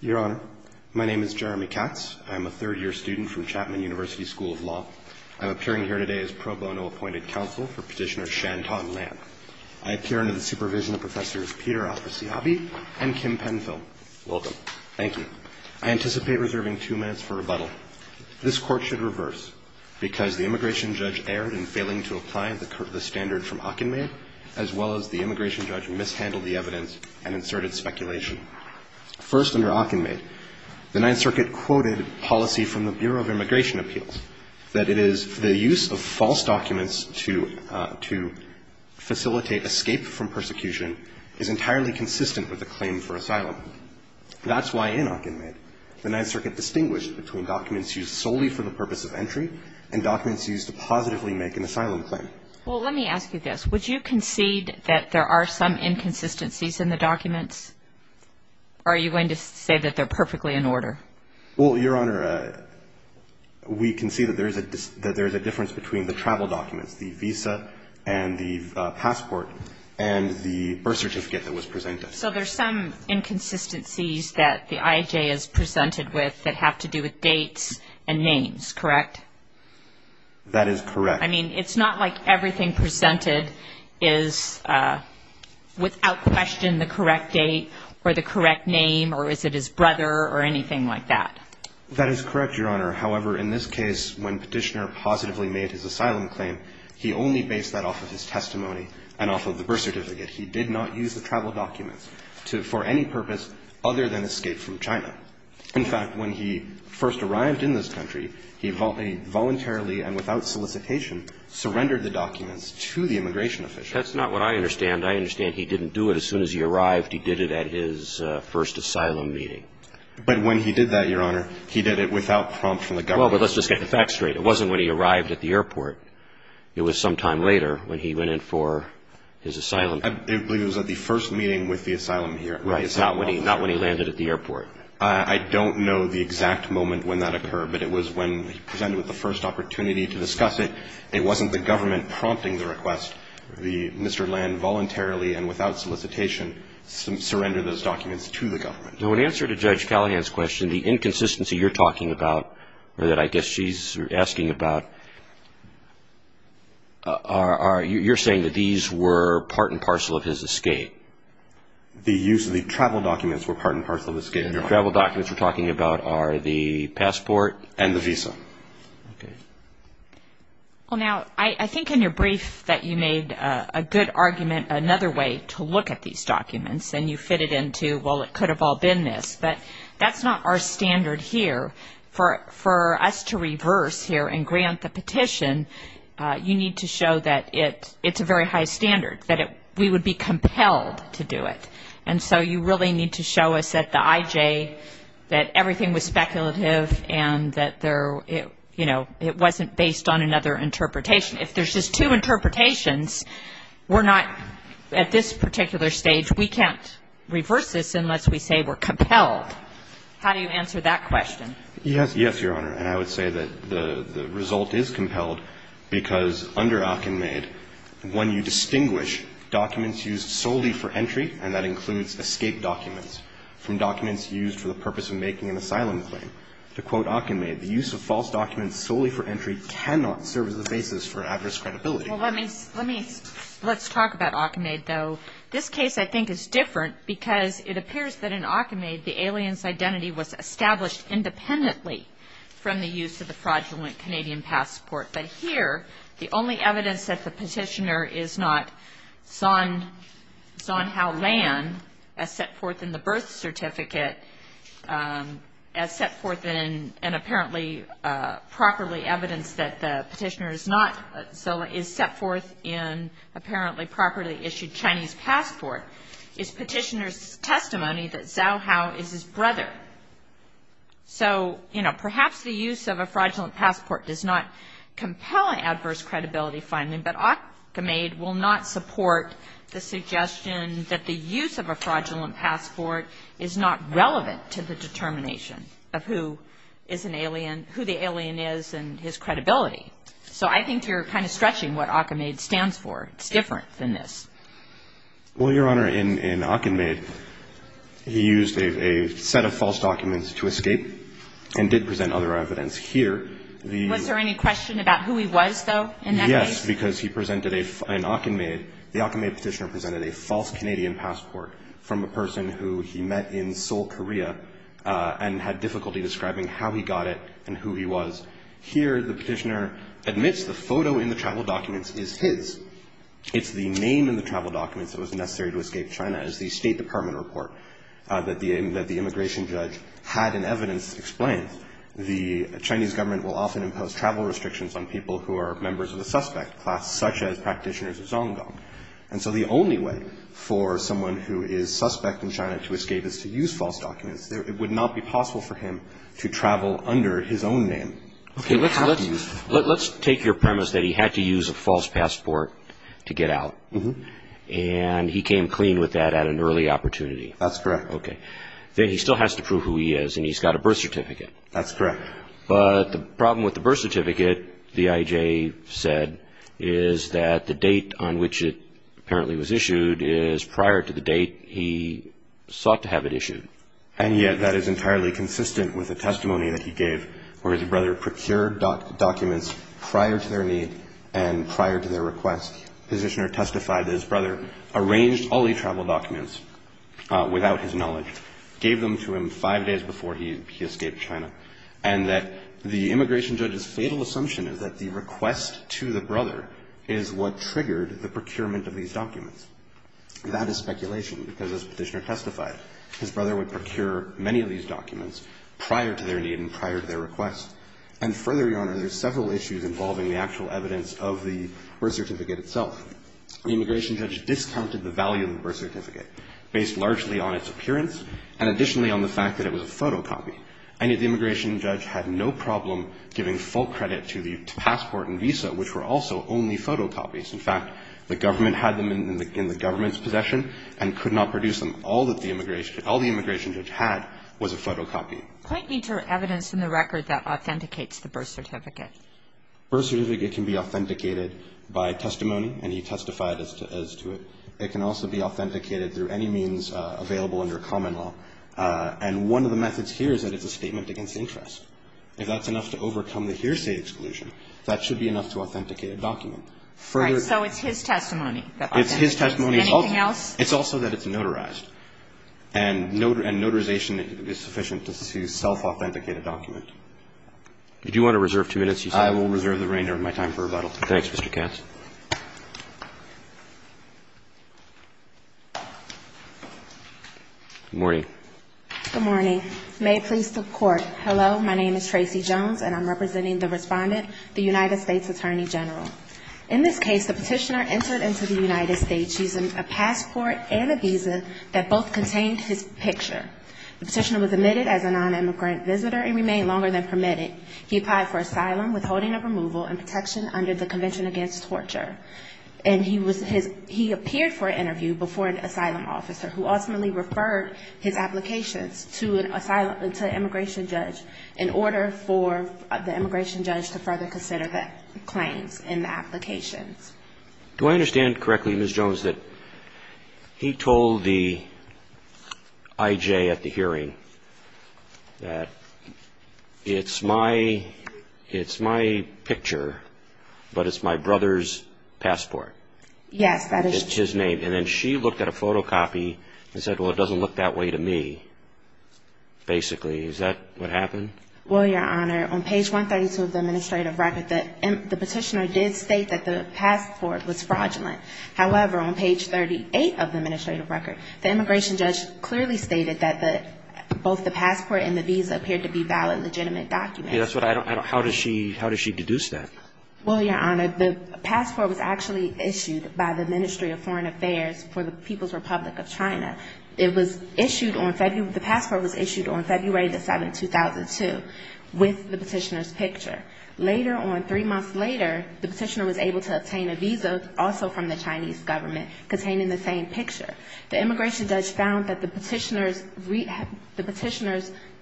Your Honor, my name is Jeremy Katz. I'm a third-year student from Chapman University School of Law. I'm appearing here today as pro bono appointed counsel for Petitioner Shantan Lam. I appear under the supervision of Professors Peter Al-Khasiabi and Kim Penfield. I anticipate reserving two minutes for rebuttal. This Court should reverse because the immigration judge erred in failing to apply the standard from Hockenmayer, as well as the immigration judge mishandled the evidence and inserted speculation. First, under Hockenmayer, the Ninth Circuit quoted policy from the Bureau of Immigration Appeals, that it is the use of false documents to facilitate escape from persecution is entirely consistent with a claim for asylum. That's why in Hockenmayer, the Ninth Circuit distinguished between documents used solely for the purpose of entry and documents used to positively make an asylum claim. Would you concede that there are some inconsistencies in the documents, or are you going to say that they're perfectly in order? Well, Your Honor, we concede that there is a difference between the travel documents, the visa and the passport, and the birth certificate that was presented. So there's some inconsistencies that the IAJ has presented with that have to do with dates and names, correct? That is correct. I mean, it's not like everything presented is without question the correct date or the correct name or is it his brother or anything like that. That is correct, Your Honor. However, in this case, when Petitioner positively made his asylum claim, he only based that off of his testimony and off of the birth certificate. He did not use the travel documents for any purpose other than escape from China. In fact, when he first arrived in this country, he voluntarily and without solicitation surrendered the documents to the immigration official. That's not what I understand. I understand he didn't do it as soon as he arrived. He did it at his first asylum meeting. But when he did that, Your Honor, he did it without prompt from the government. Well, but let's just get the facts straight. It wasn't when he arrived at the airport. It was sometime later when he went in for his asylum. I believe it was at the first meeting with the asylum here. Right. Not when he landed at the airport. I don't know the exact moment when that occurred, but it was when he presented with the first opportunity to discuss it. It wasn't the government prompting the request. Mr. Land voluntarily and without solicitation surrendered those documents to the government. Now, in answer to Judge Callahan's question, the inconsistency you're talking about or that I guess she's asking about, you're saying that these were part and parcel of his escape. The use of the travel documents were part and parcel of his escape. The travel documents you're talking about are the passport. And the visa. Okay. Well, now, I think in your brief that you made a good argument, another way to look at these documents, and you fit it into, well, it could have all been this. But that's not our standard here. For us to reverse here and grant the petition, you need to show that it's a very high standard, that we would be compelled to do it. And so you really need to show us that the IJ, that everything was speculative and that it wasn't based on another interpretation. If there's just two interpretations, we're not, at this particular stage, we can't reverse this unless we say we're compelled. How do you answer that question? Yes, Your Honor. And I would say that the result is compelled because under Akinmaid, when you distinguish documents used solely for entry, and that includes escape documents, from documents used for the purpose of making an asylum claim, to quote Akinmaid, the use of false documents solely for entry cannot serve as the basis for adverse credibility. Well, let me, let's talk about Akinmaid, though. This case, I think, is different because it appears that in Akinmaid, the alien's identity was established independently from the use of the fraudulent Canadian passport. But here, the only evidence that the petitioner is not Zhaohao Lan, as set forth in the birth certificate, as set forth in, and apparently properly evidenced that the petitioner is not, so is set forth in apparently properly issued Chinese passport, is petitioner's testimony that Zhaohao is his brother. So, you know, perhaps the use of a fraudulent passport does not compel an adverse credibility finding, but Akinmaid will not support the suggestion that the use of a fraudulent passport is not relevant to the determination of who is an alien, who the alien is and his credibility. So I think you're kind of stretching what Akinmaid stands for. It's different than this. Well, Your Honor, in Akinmaid, he used a set of false documents to escape and did present other evidence. Here, the ---- Was there any question about who he was, though, in that case? Yes, because he presented a, in Akinmaid, the Akinmaid petitioner presented a false Canadian passport from a person who he met in Seoul, Korea, and had difficulty describing how he got it and who he was. Here, the petitioner admits the photo in the travel documents is his. It's the name in the travel documents that was necessary to escape China. It's the State Department report that the immigration judge had in evidence explains the Chinese government will often impose travel restrictions on people who are members of the suspect class, such as practitioners of Zonggang. And so the only way for someone who is suspect in China to escape is to use false documents. It would not be possible for him to travel under his own name. Let's take your premise that he had to use a false passport to get out, and he came clean with that at an early opportunity. That's correct. Okay. He still has to prove who he is, and he's got a birth certificate. That's correct. But the problem with the birth certificate, the IJ said, is that the date on which it apparently was issued is prior to the date he sought to have it issued. And yet that is entirely consistent with a testimony that he gave where his brother procured documents prior to their need and prior to their request. The petitioner testified that his brother arranged all the travel documents without his knowledge, gave them to him five days before he escaped China, and that the immigration judge's fatal assumption is that the request to the brother is what triggered the procurement of these documents. That is speculation because, as the petitioner testified, his brother would procure many of these documents prior to their need and prior to their request. And further, Your Honor, there's several issues involving the actual evidence of the birth certificate itself. The immigration judge discounted the value of the birth certificate based largely on its appearance and additionally on the fact that it was a photocopy. And yet the immigration judge had no problem giving full credit to the passport and visa, which were also only photocopies. In fact, the government had them in the government's possession and could not produce them. All that the immigration judge had was a photocopy. Kagan. Point me to evidence in the record that authenticates the birth certificate. The birth certificate can be authenticated by testimony, and he testified as to it. It can also be authenticated through any means available under common law. And one of the methods here is that it's a statement against interest. If that's enough to overcome the hearsay exclusion, that should be enough to authenticate a document. All right. So it's his testimony. It's his testimony. Anything else? It's also that it's notarized. And notarization is sufficient to self-authenticate a document. Did you want to reserve two minutes? I will reserve the remainder of my time for rebuttal. Thanks, Mr. Katz. Good morning. Good morning. May it please the Court. Hello. My name is Tracy Jones, and I'm representing the Respondent, the United States Attorney General. In this case, the Petitioner entered into the United States using a passport and a visa that both contained his picture. The Petitioner was admitted as a non-immigrant visitor and remained longer than permitted. He applied for asylum withholding of removal and protection under the Convention Against Torture. And he was his he appeared for an interview before an asylum officer who ultimately referred his applications to an asylum to an immigration judge in order for the immigration judge to further consider the claims. Do I understand correctly, Ms. Jones, that he told the IJ at the hearing that it's my picture, but it's my brother's passport? Yes, that is true. It's his name. And then she looked at a photocopy and said, well, it doesn't look that way to me, basically. Is that what happened? Well, Your Honor, on page 132 of the administrative record, the Petitioner did state that the passport was fraudulent. However, on page 38 of the administrative record, the immigration judge clearly stated that both the passport and the visa appeared to be valid, legitimate documents. How does she deduce that? Well, Your Honor, the passport was actually issued by the Ministry of Foreign Affairs for the People's Republic of China. And it was issued with the Petitioner's picture. Later on, three months later, the Petitioner was able to obtain a visa also from the Chinese government containing the same picture. The immigration judge found that the Petitioner's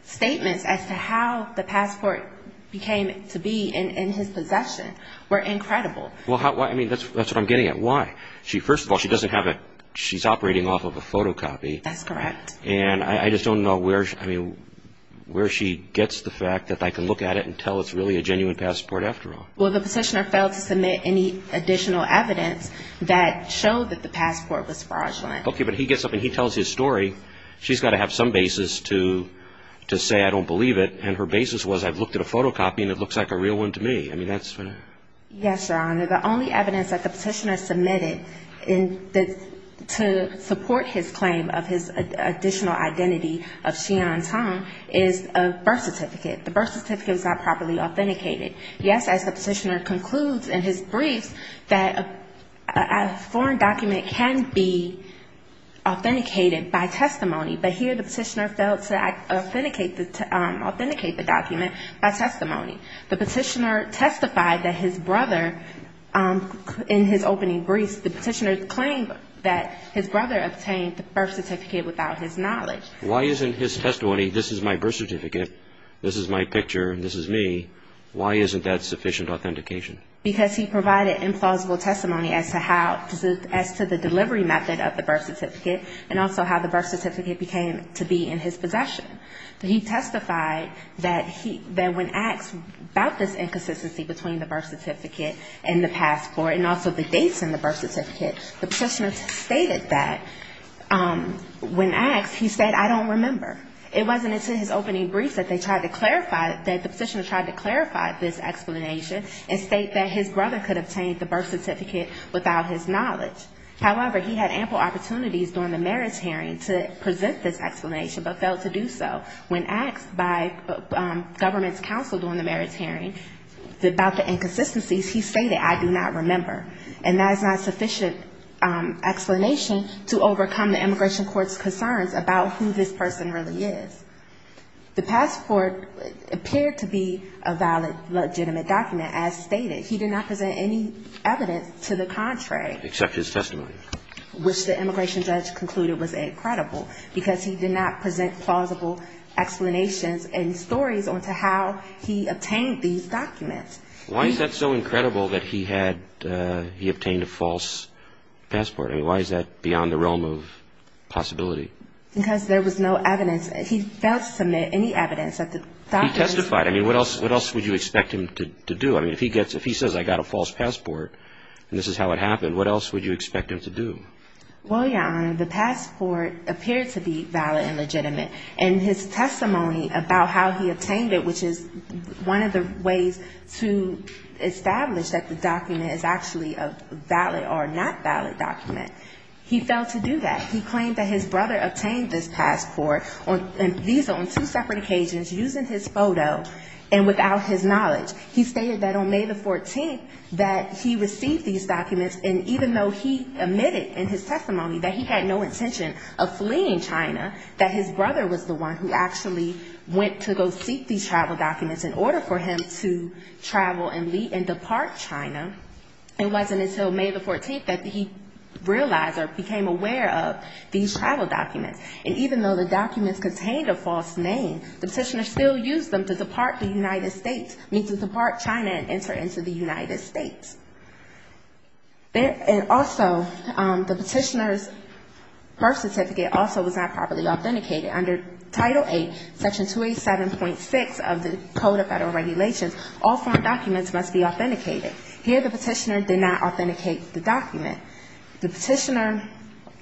statements as to how the passport became to be in his possession were incredible. Well, I mean, that's what I'm getting at. Why? Well, first of all, she's operating off of a photocopy. That's correct. And I just don't know where she gets the fact that I can look at it and tell it's really a genuine passport after all. Well, the Petitioner failed to submit any additional evidence that showed that the passport was fraudulent. Okay, but he gets up and he tells his story. She's got to have some basis to say I don't believe it. And her basis was I've looked at a photocopy and it looks like a real one to me. Yes, Your Honor. The only evidence that the Petitioner submitted to support his claim of his additional identity of Xi'an Tong is a birth certificate. The birth certificate was not properly authenticated. Yes, as the Petitioner concludes in his briefs, that a foreign document can be authenticated by testimony, but here the Petitioner failed to authenticate the document by testimony. The Petitioner testified that his brother in his opening briefs, the Petitioner claimed that his brother obtained the birth certificate without his knowledge. Why isn't his testimony, this is my birth certificate, this is my picture and this is me, why isn't that sufficient authentication? Because he provided implausible testimony as to how, as to the delivery method of the birth certificate and also how the birth certificate became to be in his possession. He testified that he, that when asked about this inconsistency between the birth certificate and the passport and also the dates in the birth certificate, the Petitioner stated that when asked, he said I don't remember. It wasn't until his opening briefs that they tried to clarify, that the Petitioner tried to clarify this explanation and state that his brother could obtain the birth certificate without his knowledge. However, he had ample opportunities during the merits hearing to present this explanation, but failed to do so. When asked by government's counsel during the merits hearing about the inconsistencies, he stated I do not remember. And that is not sufficient explanation to overcome the immigration court's concerns about who this person really is. The passport appeared to be a valid, legitimate document as stated. He did not present any evidence to the contrary. Except his testimony. Which the immigration judge concluded was incredible, because he did not present plausible explanations and stories on to how he obtained these documents. Why is that so incredible that he had, he obtained a false passport? I mean, why is that beyond the realm of possibility? Because there was no evidence. He testified. I mean, what else would you expect him to do? Establish that the document is actually a valid or not valid document. He failed to do that. He claimed that his brother obtained this passport, and these are on two separate occasions, using his photo and without his knowledge. He stated that on May the 14th that he received these documents, and even though he admitted in his testimony that he had no intention of fleeing China, that his brother was the one who actually went to go seek these travel documents in order for him to travel to China. It wasn't until May the 14th that he realized or became aware of these travel documents. And even though the documents contained a false name, the petitioner still used them to depart the United States, meaning to depart China and enter into the United States. And also, the petitioner's birth certificate also was not properly authenticated. Under Title VIII, Section 287.6 of the Code of Federal Regulations, all foreign documents are not legally binding. All documents must be authenticated. Here the petitioner did not authenticate the document. The petitioner,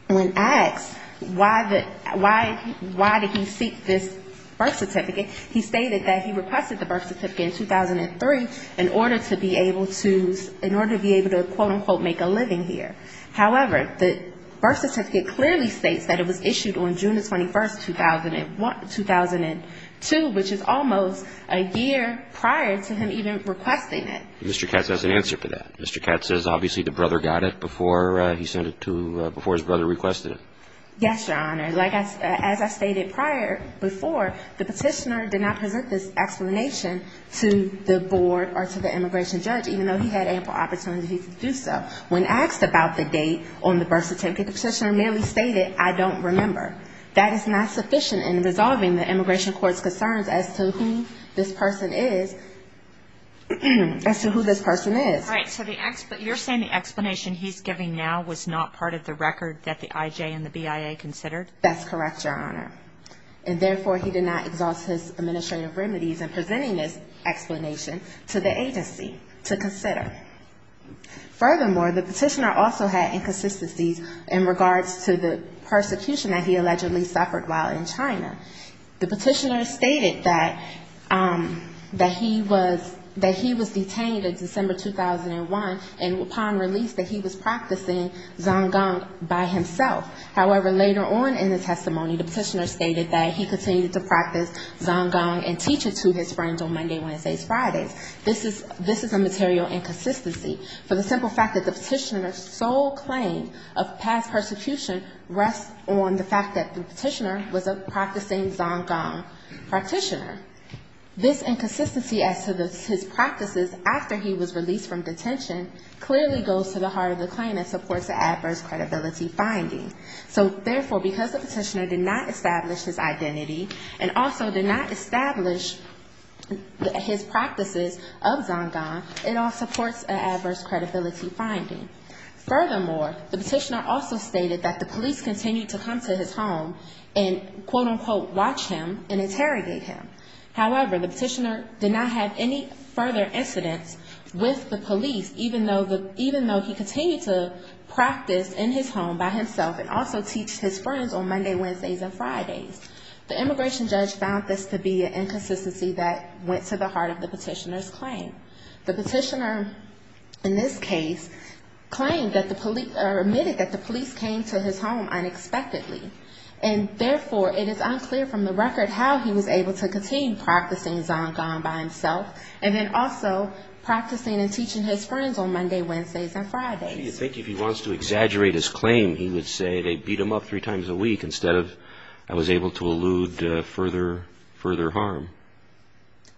when asked why the, why did he seek this birth certificate, he stated that he requested the birth certificate in 2003 in order to be able to, in order to be able to, quote, unquote, make a living here. However, the birth certificate clearly states that it was issued on June the 21st, 2001, 2002, which is almost a year prior to him even requesting it. Mr. Katz has an answer for that. Mr. Katz says obviously the brother got it before he sent it to, before his brother requested it. Yes, Your Honor. As I stated prior, before, the petitioner did not present this explanation to the board or to the immigration judge, even though he had ample opportunity to do so. When asked about the date on the birth certificate, the petitioner merely stated, I don't remember. That is not sufficient in resolving the immigration court's concerns as to who this person is, as to who this person is. All right, so you're saying the explanation he's giving now was not part of the record that the IJ and the BIA considered? That's correct, Your Honor. And therefore, he did not exhaust his administrative remedies in presenting this explanation to the agency to consider. Furthermore, the petitioner also had inconsistencies in regards to the persecution that he allegedly suffered while in China. The petitioner stated that he was detained in December, 2001, and upon release that he was practicing Zonggang by himself. However, later on in the testimony, the petitioner stated that he continued to practice Zonggang and teach it to his friends on Monday, Wednesdays, Fridays. This is a material inconsistency, for the simple fact that the petitioner's sole claim of past persecution rests on the fact that the petitioner was a practicing Zonggang practitioner. This inconsistency as to his practices after he was released from detention clearly goes to the heart of the claim and supports the adverse credibility finding. So therefore, because the petitioner did not establish his identity and also did not establish his practices of Zonggang, it all supports an adverse credibility finding. Furthermore, the petitioner also stated that the police continued to come to his home and, quote-unquote, watch him and interrogate him. However, the petitioner did not have any further incidents with the police, even though he continued to practice and teach Zonggang. He continued to practice in his home by himself and also teach his friends on Monday, Wednesdays, and Fridays. The immigration judge found this to be an inconsistency that went to the heart of the petitioner's claim. The petitioner, in this case, claimed that the police, or admitted that the police came to his home unexpectedly. And therefore, it is unclear from the record how he was able to continue practicing Zonggang by himself and then also practicing and following up on this claim. He would say they beat him up three times a week instead of I was able to elude further harm.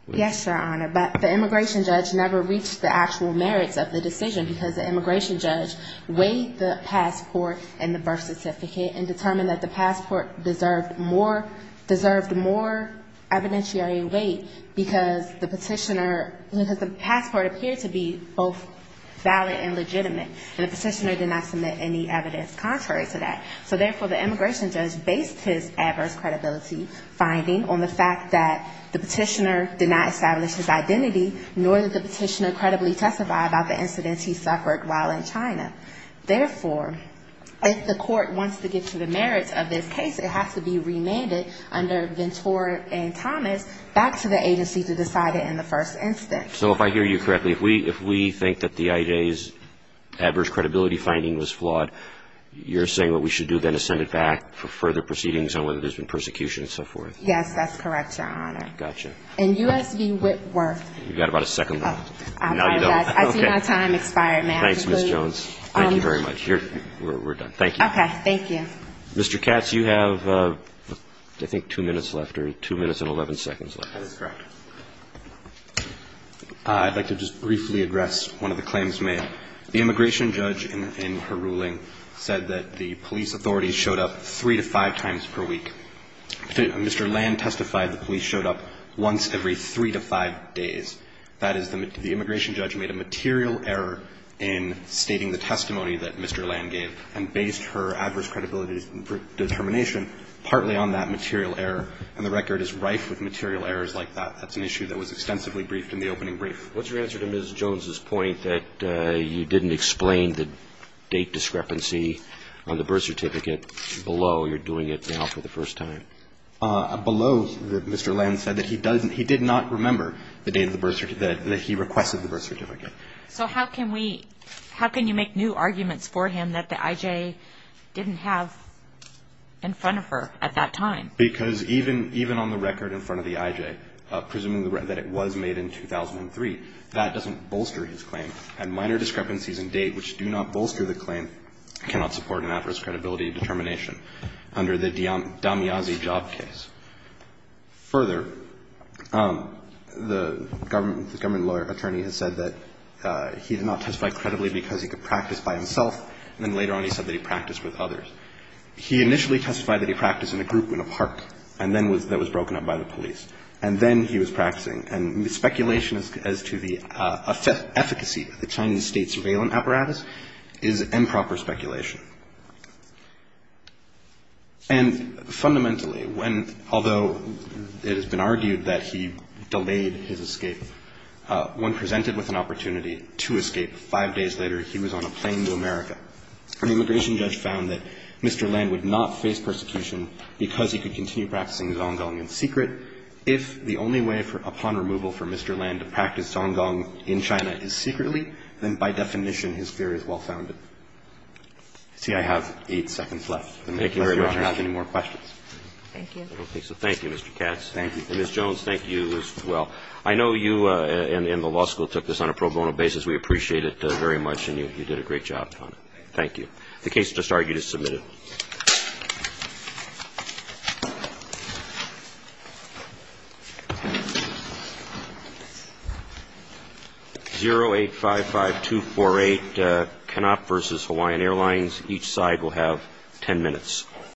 Yes, Your Honor, but the immigration judge never reached the actual merits of the decision because the immigration judge weighed the passport and the birth certificate and determined that the passport deserved more evidentiary weight because the petitioner, because the passport appeared to be both valid and legitimate, and the petitioner did not submit any evidence. Contrary to that. So therefore, the immigration judge based his adverse credibility finding on the fact that the petitioner did not establish his identity, nor did the petitioner credibly testify about the incidents he suffered while in China. Therefore, if the court wants to get to the merits of this case, it has to be remanded under Ventura and Thomas back to the agency to decide it in the first instance. You're saying what we should do then is send it back for further proceedings on whether there's been persecution and so forth? Yes, that's correct, Your Honor. And U.S. v. Whitworth. You've got about a second left. I see my time expired, ma'am. Thanks, Ms. Jones. Thank you very much. We're done. Mr. Katz, you have, I think, two minutes left or two minutes and 11 seconds left. I'd like to just briefly address one of the claims made. The immigration judge, in her ruling, said that the police authorities showed up three to five times per week. Mr. Land testified the police showed up once every three to five days. That is, the immigration judge made a material error in stating the testimony that Mr. Land gave and based her adverse credibility determination partly on that material error, and the record is rife with material errors like that. That's an issue that was extensively briefed in the opening brief. What's your answer to Ms. Jones' point that you didn't explain the date discrepancy on the birth certificate below? You're doing it now for the first time. Below, Mr. Land said that he did not remember the date that he requested the birth certificate. So how can you make new arguments for him that the I.J. didn't have in front of her at that time? Because even on the record in front of the I.J., presuming that it was made in 2003, that doesn't bolster his claim. And minor discrepancies in date which do not bolster the claim cannot support an adverse credibility determination. Under the Damiazi job case. Further, the government lawyer attorney has said that he did not testify credibly because he could practice by himself, and then later on he said that he practiced with others. He initially testified that he practiced in a group in a park that was broken up by the police, and then he was practicing. And speculation as to the efficacy of the Chinese state surveillance apparatus is improper speculation. And fundamentally, although it has been argued that he delayed his escape, when presented with an opportunity to escape, five days later he was on a plane to America, and the immigration judge found that Mr. Land would not face persecution because he could continue practicing Zonggong in secret. If the only way upon removal for Mr. Land to practice Zonggong in China is secretly, then by definition his theory is well-founded. See, I have eight seconds left. Thank you very much. I don't have any more questions. Thank you. Okay, so thank you, Mr. Katz, and Ms. Jones, thank you as well. I know you and the law school took this on a pro bono basis. We appreciate it very much, and you did a great job on it. Thank you. The case just argued is submitted.